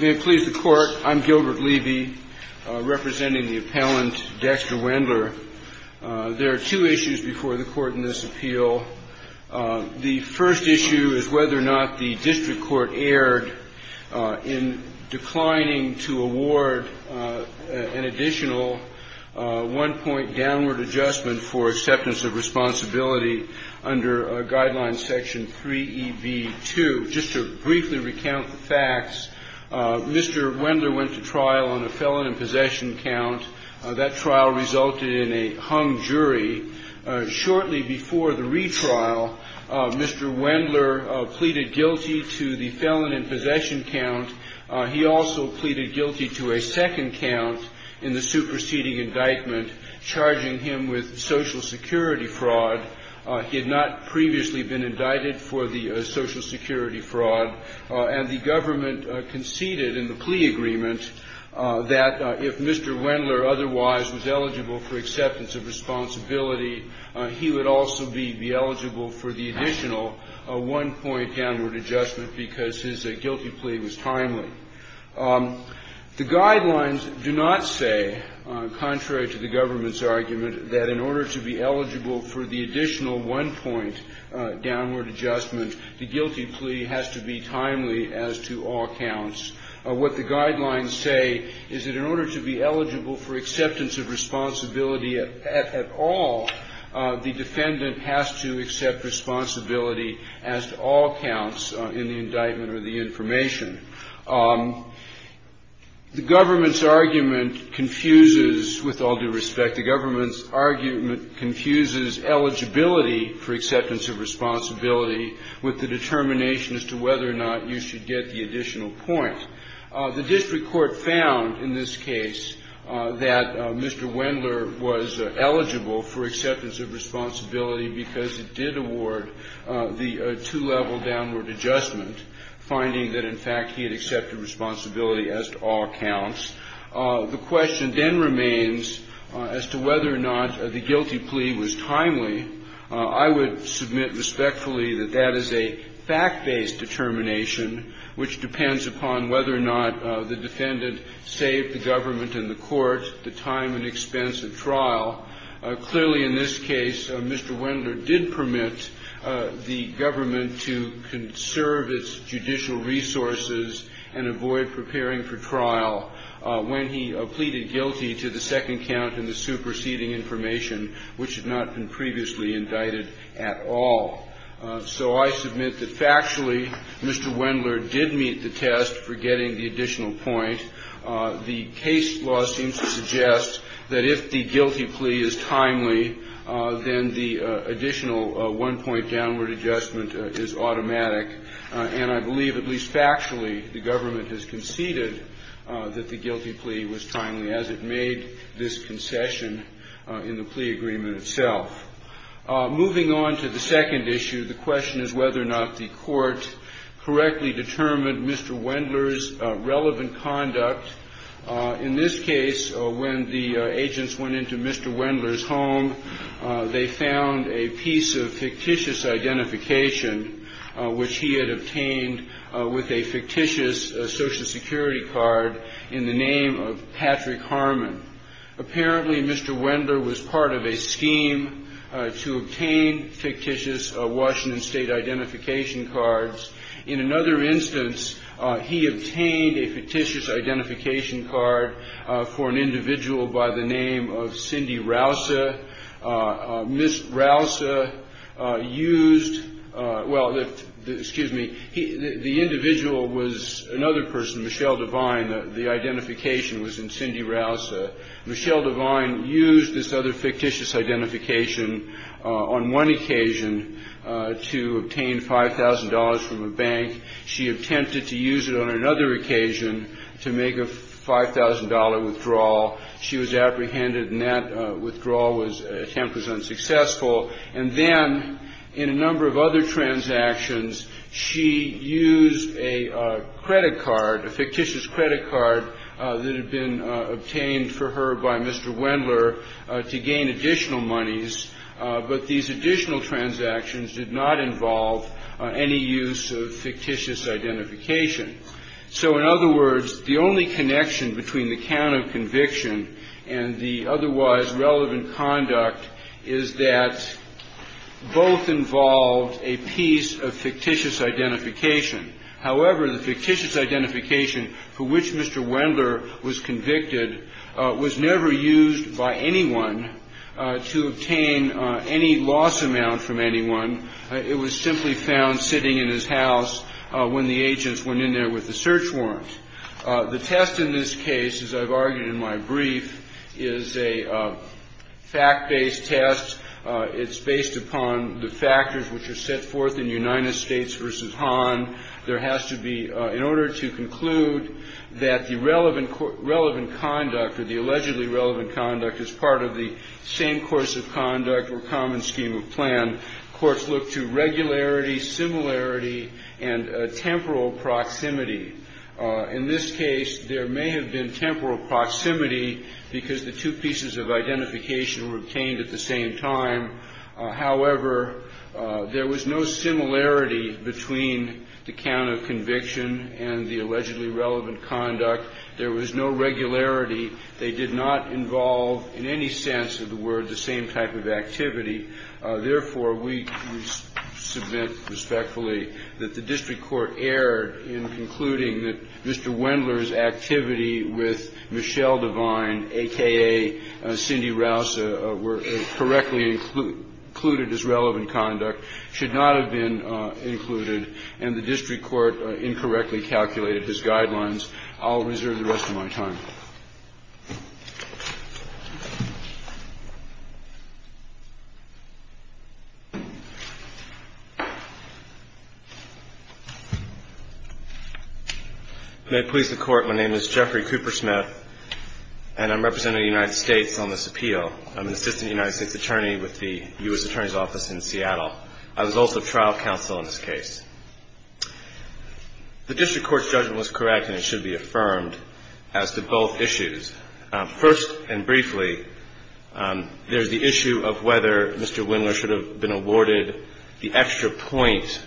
May it please the Court, I'm Gilbert Levy, representing the appellant Dexter Wendler. There are two issues before the Court in this appeal. The first issue is whether or not the district court erred in declining to award an additional one-point downward adjustment for acceptance of responsibility under Guideline Section 3EB2. Just to briefly recount the facts, Mr. Wendler went to trial on a felon in possession count. That trial resulted in a hung jury. Shortly before the retrial, Mr. Wendler pleaded guilty to the felon in possession count. He also pleaded guilty to a second count in the superseding indictment, charging him with Social Security fraud. He had not previously been indicted for the Social Security fraud. And the government conceded in the plea agreement that if Mr. Wendler otherwise was eligible for acceptance of responsibility, he would also be eligible for the additional one-point downward adjustment because his guilty plea was timely. The Guidelines do not say, contrary to the government's argument, that in order to be eligible for the additional one-point downward adjustment, the guilty plea has to be timely as to all counts. What the Guidelines say is that in order to be eligible for acceptance of responsibility at all, the defendant has to accept responsibility as to all counts in the indictment or the information. The government's argument confuses, with all due respect, the government's argument confuses eligibility for acceptance of responsibility with the determination as to whether or not you should get the additional point. The district court found in this case that Mr. Wendler was eligible for acceptance of responsibility because it did award the two-level downward adjustment, finding that, in fact, he had accepted responsibility as to all counts. The question then remains as to whether or not the guilty plea was timely. I would submit respectfully that that is a fact-based determination, which depends upon whether or not the defendant saved the government and the court the time and expense of trial. Clearly, in this case, Mr. Wendler did permit the government to conserve its judicial resources and avoid preparing for trial when he pleaded guilty to the second count and the superseding information, which had not been previously indicted at all. So I submit that, factually, Mr. Wendler did meet the test for getting the additional point. The case law seems to suggest that if the guilty plea is timely, then the additional one-point downward adjustment is automatic. And I believe, at least factually, the government has conceded that the guilty plea was timely as it made this concession in the plea agreement itself. Moving on to the second issue, the question is whether or not the court correctly determined Mr. Wendler's relevant conduct. In this case, when the agents went into Mr. Wendler's home, they found a piece of fictitious identification, which he had obtained with a fictitious Social Security card in the name of Patrick Harmon. Apparently, Mr. Wendler was part of a scheme to obtain fictitious Washington State identification cards. In another instance, he obtained a fictitious identification card for an individual by the name of Cindy Rousa. Ms. Rousa used, well, excuse me, the individual was another person, Michelle Devine. The identification was in Cindy Rousa. Michelle Devine used this other fictitious identification on one occasion to obtain $5,000 from a bank. She attempted to use it on another occasion to make a $5,000 withdrawal. She was apprehended, and that withdrawal attempt was unsuccessful. And then in a number of other transactions, she used a credit card, a fictitious credit card that had been obtained for her by Mr. Wendler to gain additional monies, but these additional transactions did not involve any use of fictitious identification. So, in other words, the only connection between the count of conviction and the otherwise relevant conduct is that both involved a piece of fictitious identification. However, the fictitious identification for which Mr. Wendler was convicted was never used by anyone to obtain any loss amount from anyone. It was simply found sitting in his house when the agents went in there with a search warrant. The test in this case, as I've argued in my brief, is a fact-based test. It's based upon the factors which are set forth in United States v. Hahn. There has to be, in order to conclude that the relevant conduct or the allegedly relevant conduct is part of the same course of conduct or common scheme of plan, courts look to regularity, similarity, and temporal proximity. In this case, there may have been temporal proximity because the two pieces of identification were obtained at the same time. However, there was no similarity between the count of conviction and the allegedly relevant conduct. There was no regularity. They did not involve, in any sense of the word, the same type of activity. Therefore, we submit respectfully that the district court erred in concluding that Mr. Wendler's activity with Michelle Devine, a.k.a. Cindy Rouse, were correctly included as relevant conduct, should not have been included, and the district court incorrectly calculated his guidelines. I'll reserve the rest of my time. May it please the Court, my name is Jeffrey Cooper-Smith, and I'm representing the United States on this appeal. I'm an assistant United States attorney with the U.S. Attorney's Office in Seattle. I was also trial counsel in this case. The district court's judgment was correct, and it should be affirmed, First and briefly, there's the issue of whether Mr. Wendler should have been awarded the extra point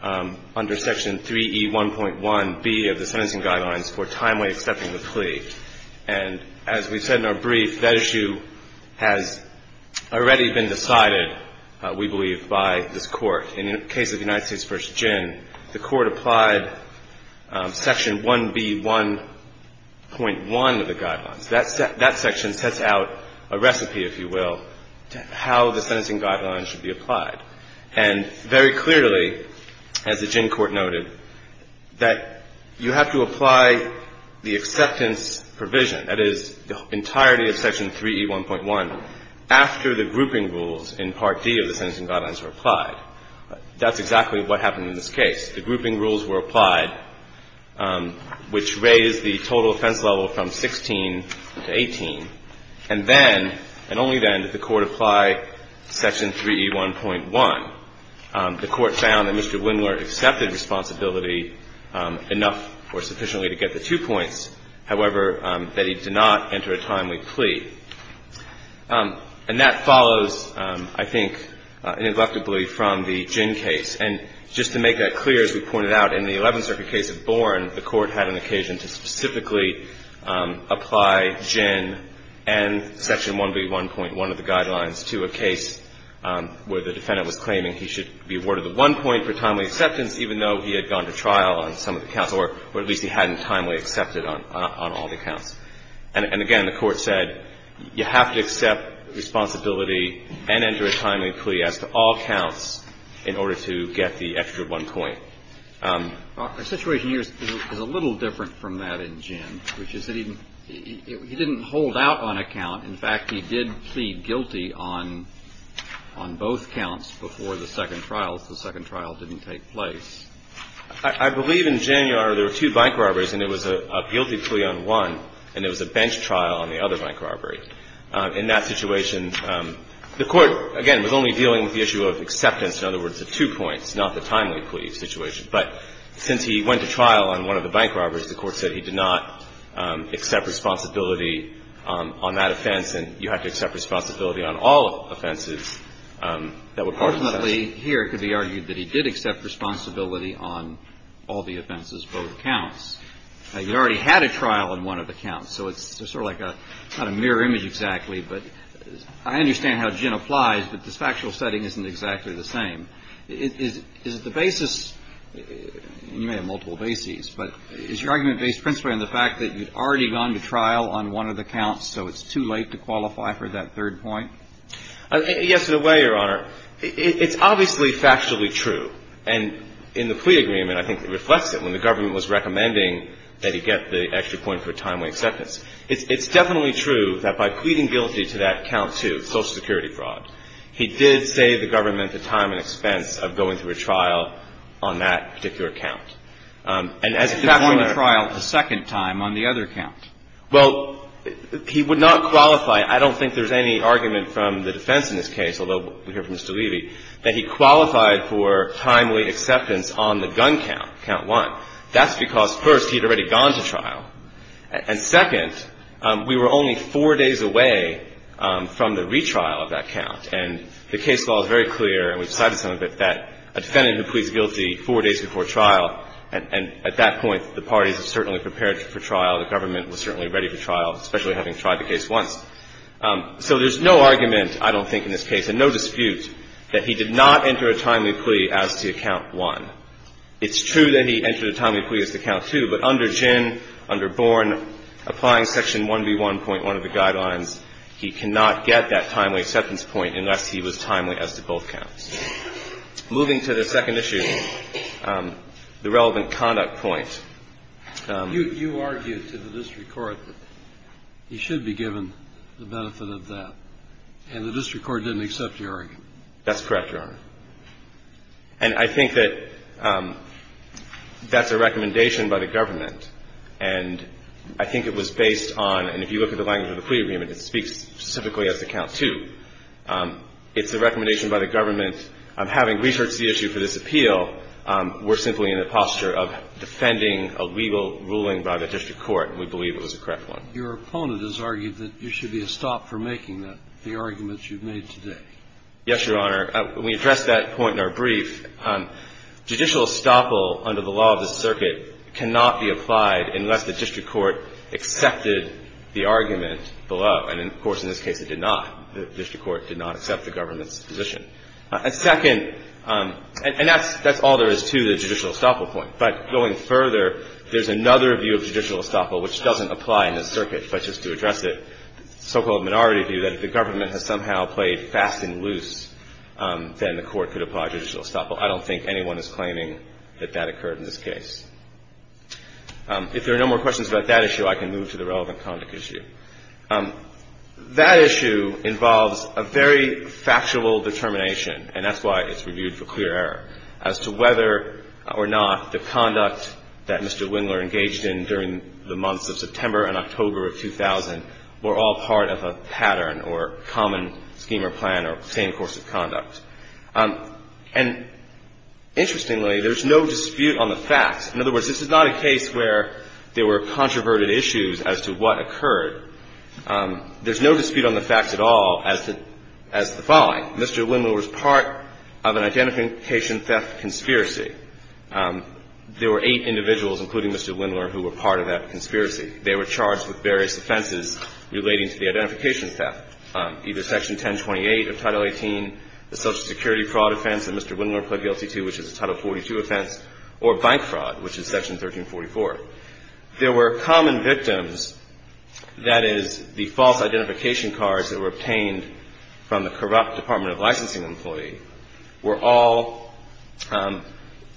under Section 3E1.1B of the Sentencing Guidelines for timely accepting the plea. And as we said in our brief, that issue has already been decided, we believe, by this Court. In the case of the United States v. Ginn, the Court applied Section 1B1.1 of the Guidelines. That section sets out a recipe, if you will, to how the Sentencing Guidelines should be applied. And very clearly, as the Ginn Court noted, that you have to apply the acceptance provision, that is, the entirety of Section 3E1.1, after the grouping rules in Part D of the Sentencing Guidelines were applied. That's exactly what happened in this case. The grouping rules were applied, which raised the total offense level from 16 to 18. And then, and only then, did the Court apply Section 3E1.1. The Court found that Mr. Wendler accepted responsibility enough or sufficiently to get the two points, however, that he did not enter a timely plea. And that follows, I think, ineluctably, from the Ginn case. And just to make that clear, as we pointed out, in the Eleventh Circuit case of Bourne, the Court had an occasion to specifically apply Ginn and Section 1B1.1 of the Guidelines to a case where the defendant was claiming he should be awarded the one point for timely acceptance, even though he had gone to trial on some of the counts, or at least he hadn't timely accepted on all the counts. And again, the Court said you have to accept responsibility and enter a timely plea as to all counts in order to get the extra one point. Our situation here is a little different from that in Ginn, which is that he didn't hold out on a count. In fact, he did plead guilty on both counts before the second trial, so the second trial didn't take place. I believe in Ginn, Your Honor, there were two bank robberies and there was a guilty plea on one and there was a bench trial on the other bank robbery. In that situation, the Court, again, was only dealing with the issue of acceptance, in other words, of two points, not the timely plea situation. But since he went to trial on one of the bank robberies, the Court said he did not accept responsibility on that offense and you have to accept responsibility on all offenses that were part of the offense. And ultimately, here, it could be argued that he did accept responsibility on all the offenses, both counts. You already had a trial on one of the counts, so it's sort of like a kind of mirror image exactly, but I understand how Ginn applies, but this factual setting isn't exactly the same. Is it the basis, and you may have multiple bases, but is your argument based principally on the fact that you've already gone to trial on one of the counts, so it's too late to qualify for that third point? Yes, in a way, Your Honor. It's obviously factually true. And in the plea agreement, I think it reflects it when the government was recommending that he get the extra point for a timely acceptance. It's definitely true that by pleading guilty to that count two, social security fraud, he did save the government the time and expense of going through a trial on that particular count. And as a factual error. He went to trial a second time on the other count. Well, he would not qualify. I don't think there's any argument from the defense in this case, although we hear from Mr. Levy, that he qualified for timely acceptance on the gun count, count one. That's because, first, he had already gone to trial. And second, we were only four days away from the retrial of that count. And the case law is very clear, and we've cited some of it, that a defendant who pleads guilty four days before trial, and at that point, the parties are certainly prepared for trial. The government was certainly ready for trial, especially having tried the case once. So there's no argument, I don't think, in this case, and no dispute, that he did not enter a timely plea as to count one. It's true that he entered a timely plea as to count two, but under Ginn, under Born, applying Section 1B1.1 of the Guidelines, he cannot get that timely acceptance point unless he was timely as to both counts. Moving to the second issue, the relevant conduct point. And I think that's a recommendation by the government, and I think it was based on, and if you look at the language of the plea agreement, it speaks specifically as to count two. It's a recommendation by the government. Having researched the issue for this appeal, we're simply in a posture of defending a legal ruling by the district court, and we believe it was a correct one. Your opponent has argued that you should be a stop for making the arguments you've made today. Yes, Your Honor. We addressed that point in our brief. Judicial estoppel under the law of the circuit cannot be applied unless the district court accepted the argument below. And, of course, in this case, it did not. The district court did not accept the government's position. Second, and that's all there is to the judicial estoppel point. But going further, there's another view of judicial estoppel which doesn't apply in the circuit, but just to address it, the so-called minority view that if the government has somehow played fast and loose, then the court could apply judicial estoppel. I don't think anyone is claiming that that occurred in this case. If there are no more questions about that issue, I can move to the relevant conduct issue. That issue involves a very factual determination, and that's why it's reviewed for clear as to whether or not the conduct that Mr. Wingler engaged in during the months of September and October of 2000 were all part of a pattern or common scheme or plan or same course of conduct. And, interestingly, there's no dispute on the facts. In other words, this is not a case where there were controverted issues as to what occurred. There's no dispute on the facts at all as to the following. Mr. Wingler was part of an identification theft conspiracy. There were eight individuals, including Mr. Wingler, who were part of that conspiracy. They were charged with various offenses relating to the identification theft, either Section 1028 of Title 18, the social security fraud offense that Mr. Wingler pled guilty to, which is a Title 42 offense, or bank fraud, which is Section 1344. There were common victims, that is, the false identification cards that were obtained from the corrupt Department of Licensing employee were all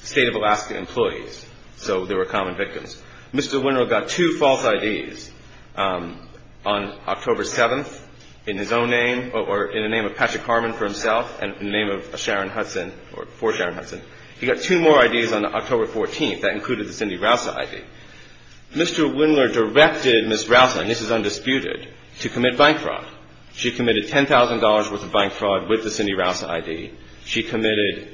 State of Alaska employees. So there were common victims. Mr. Wingler got two false IDs on October 7th in his own name or in the name of Patrick Harmon for himself and in the name of Sharon Hudson or for Sharon Hudson. He got two more IDs on October 14th. That included the Cindy Rausser ID. Mr. Wingler directed Ms. Rausser, and this is undisputed, to commit bank fraud. She committed $10,000 worth of bank fraud with the Cindy Rausser ID. She committed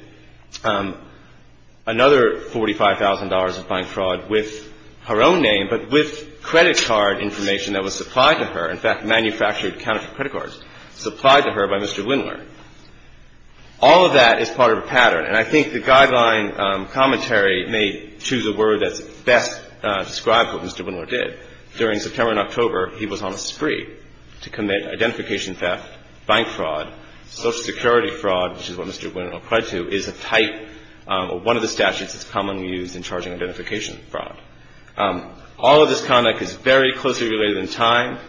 another $45,000 of bank fraud with her own name, but with credit card information that was supplied to her. In fact, manufactured counterfeit credit cards supplied to her by Mr. Wingler. All of that is part of a pattern, and I think the guideline commentary may choose a word that best describes what Mr. Wingler did. During September and October, he was on a spree to commit identification theft, bank fraud, Social Security fraud, which is what Mr. Wingler applied to, is a type or one of the statutes that's commonly used in charging identification fraud. All of this conduct is very closely related in time.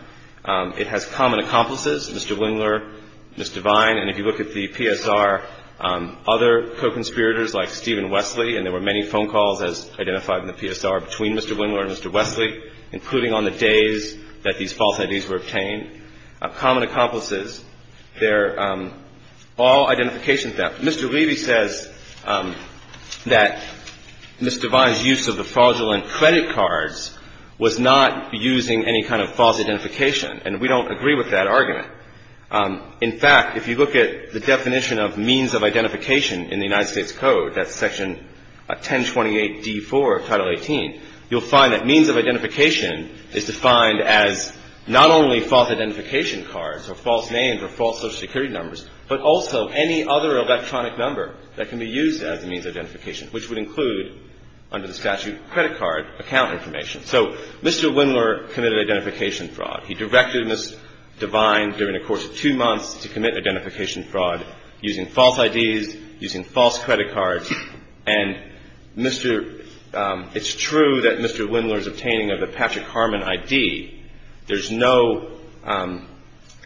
It has common accomplices, Mr. Wingler, Mr. Vine, and if you look at the PSR, other co-conspirators like Stephen Wesley, and there were many phone calls, as identified in the PSR, between Mr. Wingler and Mr. Wesley, including on the days that these false IDs were obtained, common accomplices, they're all identification theft. Mr. Levy says that Mr. Vine's use of the fraudulent credit cards was not using any kind of false identification, and we don't agree with that argument. In fact, if you look at the definition of means of identification in the United States Act of 1918, you'll find that means of identification is defined as not only false identification cards or false names or false Social Security numbers, but also any other electronic number that can be used as a means of identification, which would include, under the statute, credit card account information. So Mr. Wingler committed identification fraud. He directed Ms. Divine, during a course of two months, to commit identification fraud using false IDs, using false credit cards. And Mr. — it's true that Mr. Wingler's obtaining of the Patrick Harmon ID, there's no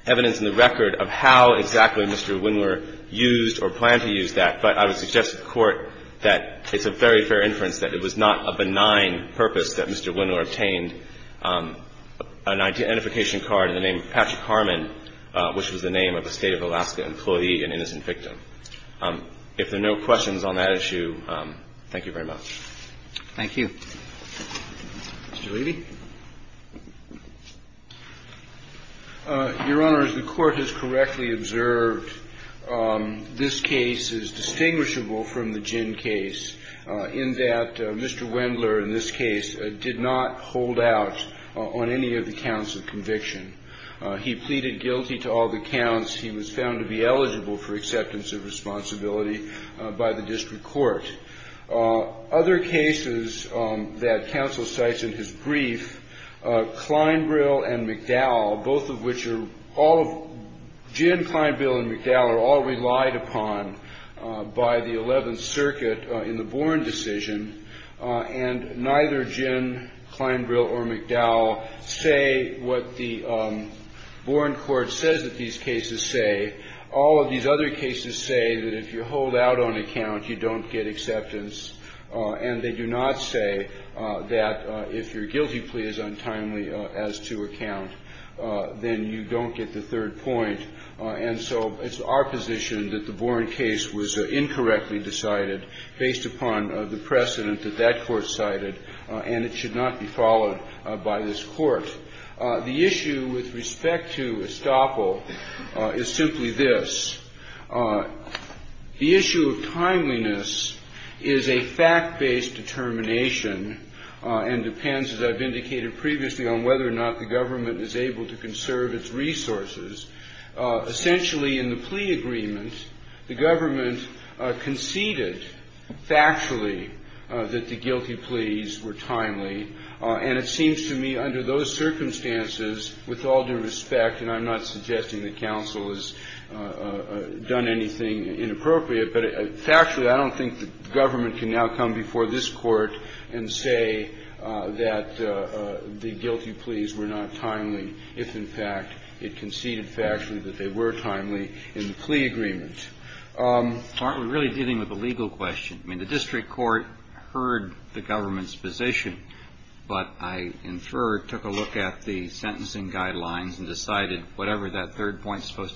evidence in the record of how exactly Mr. Wingler used or planned to use that, but I would suggest to the Court that it's a very fair inference that it was not a benign purpose that Mr. Wingler obtained an identification card in the name of Patrick Harmon, and that it was not the employee, an innocent victim. If there are no questions on that issue, thank you very much. Thank you. Mr. Levy. Your Honors, the Court has correctly observed this case is distinguishable from the Ginn case in that Mr. Wingler, in this case, did not hold out on any of the counts of conviction. He pleaded guilty to all the counts. He was found to be eligible for acceptance of responsibility by the district court. Other cases that counsel cites in his brief, Kleinbrill and McDowell, both of which are all — Ginn, Kleinbrill, and McDowell are all relied upon by the Eleventh Circuit in the Boren decision, and neither Ginn, Kleinbrill, or McDowell say what the Boren court says that these cases say. All of these other cases say that if you hold out on a count, you don't get acceptance. And they do not say that if your guilty plea is untimely as to a count, then you don't get the third point. And so it's our position that the Boren case was incorrectly decided based upon the precedent that that court cited, and it should not be followed by this Court. The issue with respect to estoppel is simply this. The issue of timeliness is a fact-based determination and depends, as I've indicated previously, on whether or not the government is able to conserve its resources. Essentially, in the plea agreement, the government conceded factually that the guilty pleas were not timely, if, in fact, it conceded factually that they were timely in the plea agreement. I'm really dealing with a legal question. I mean, the district court heard the government's position, but I inferred, took a look at the district court's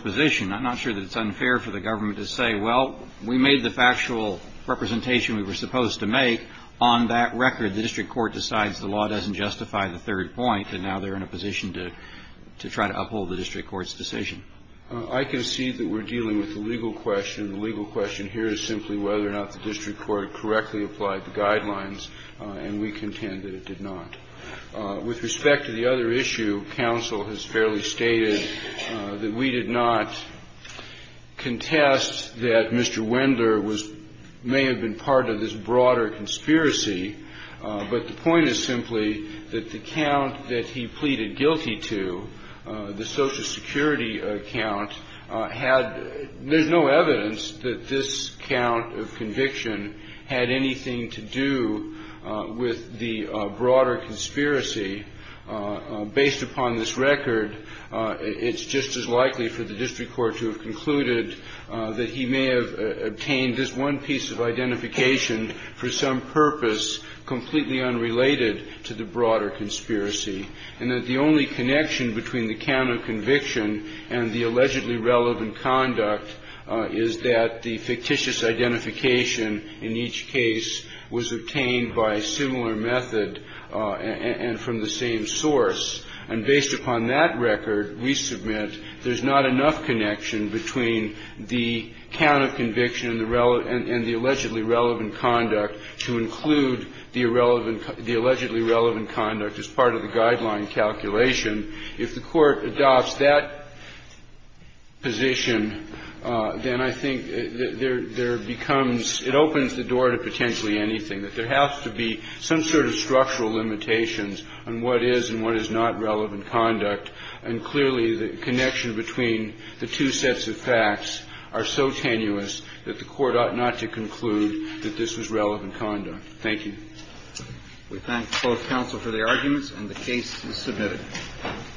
position. I'm not sure that it's unfair for the government to say, well, we made the factual representation we were supposed to make. On that record, the district court decides the law doesn't justify the third point, and now they're in a position to try to uphold the district court's decision. I think that's a fair question. I concede that we're dealing with a legal question. The legal question here is simply whether or not the district court correctly applied the guidelines, and we contend that it did not. With respect to the other issue, counsel has fairly stated that we did not contest that Mr. Wendler was – may have been part of this broader conspiracy, but the point is simply that the count that he pleaded guilty to, the Social Security count, had – there's no evidence that this count of conviction had anything to do with the broader conspiracy. Based upon this record, it's just as likely for the district court to have concluded that he may have obtained this one piece of identification for some purpose completely unrelated to the broader conspiracy, and that the only connection between the count of conviction and the allegedly relevant conduct is that the fictitious identification in each case was obtained by a similar method and from the same source. And based upon that record, we submit there's not enough connection between the count of conviction and the allegedly relevant conduct as part of the guideline calculation. If the Court adopts that position, then I think there becomes – it opens the door to potentially anything, that there has to be some sort of structural limitations on what is and what is not relevant conduct, and clearly the connection between the two sets of facts are so tenuous that the Court ought not to conclude that this was relevant conduct. Thank you. We thank both counsel for their arguments, and the case is submitted.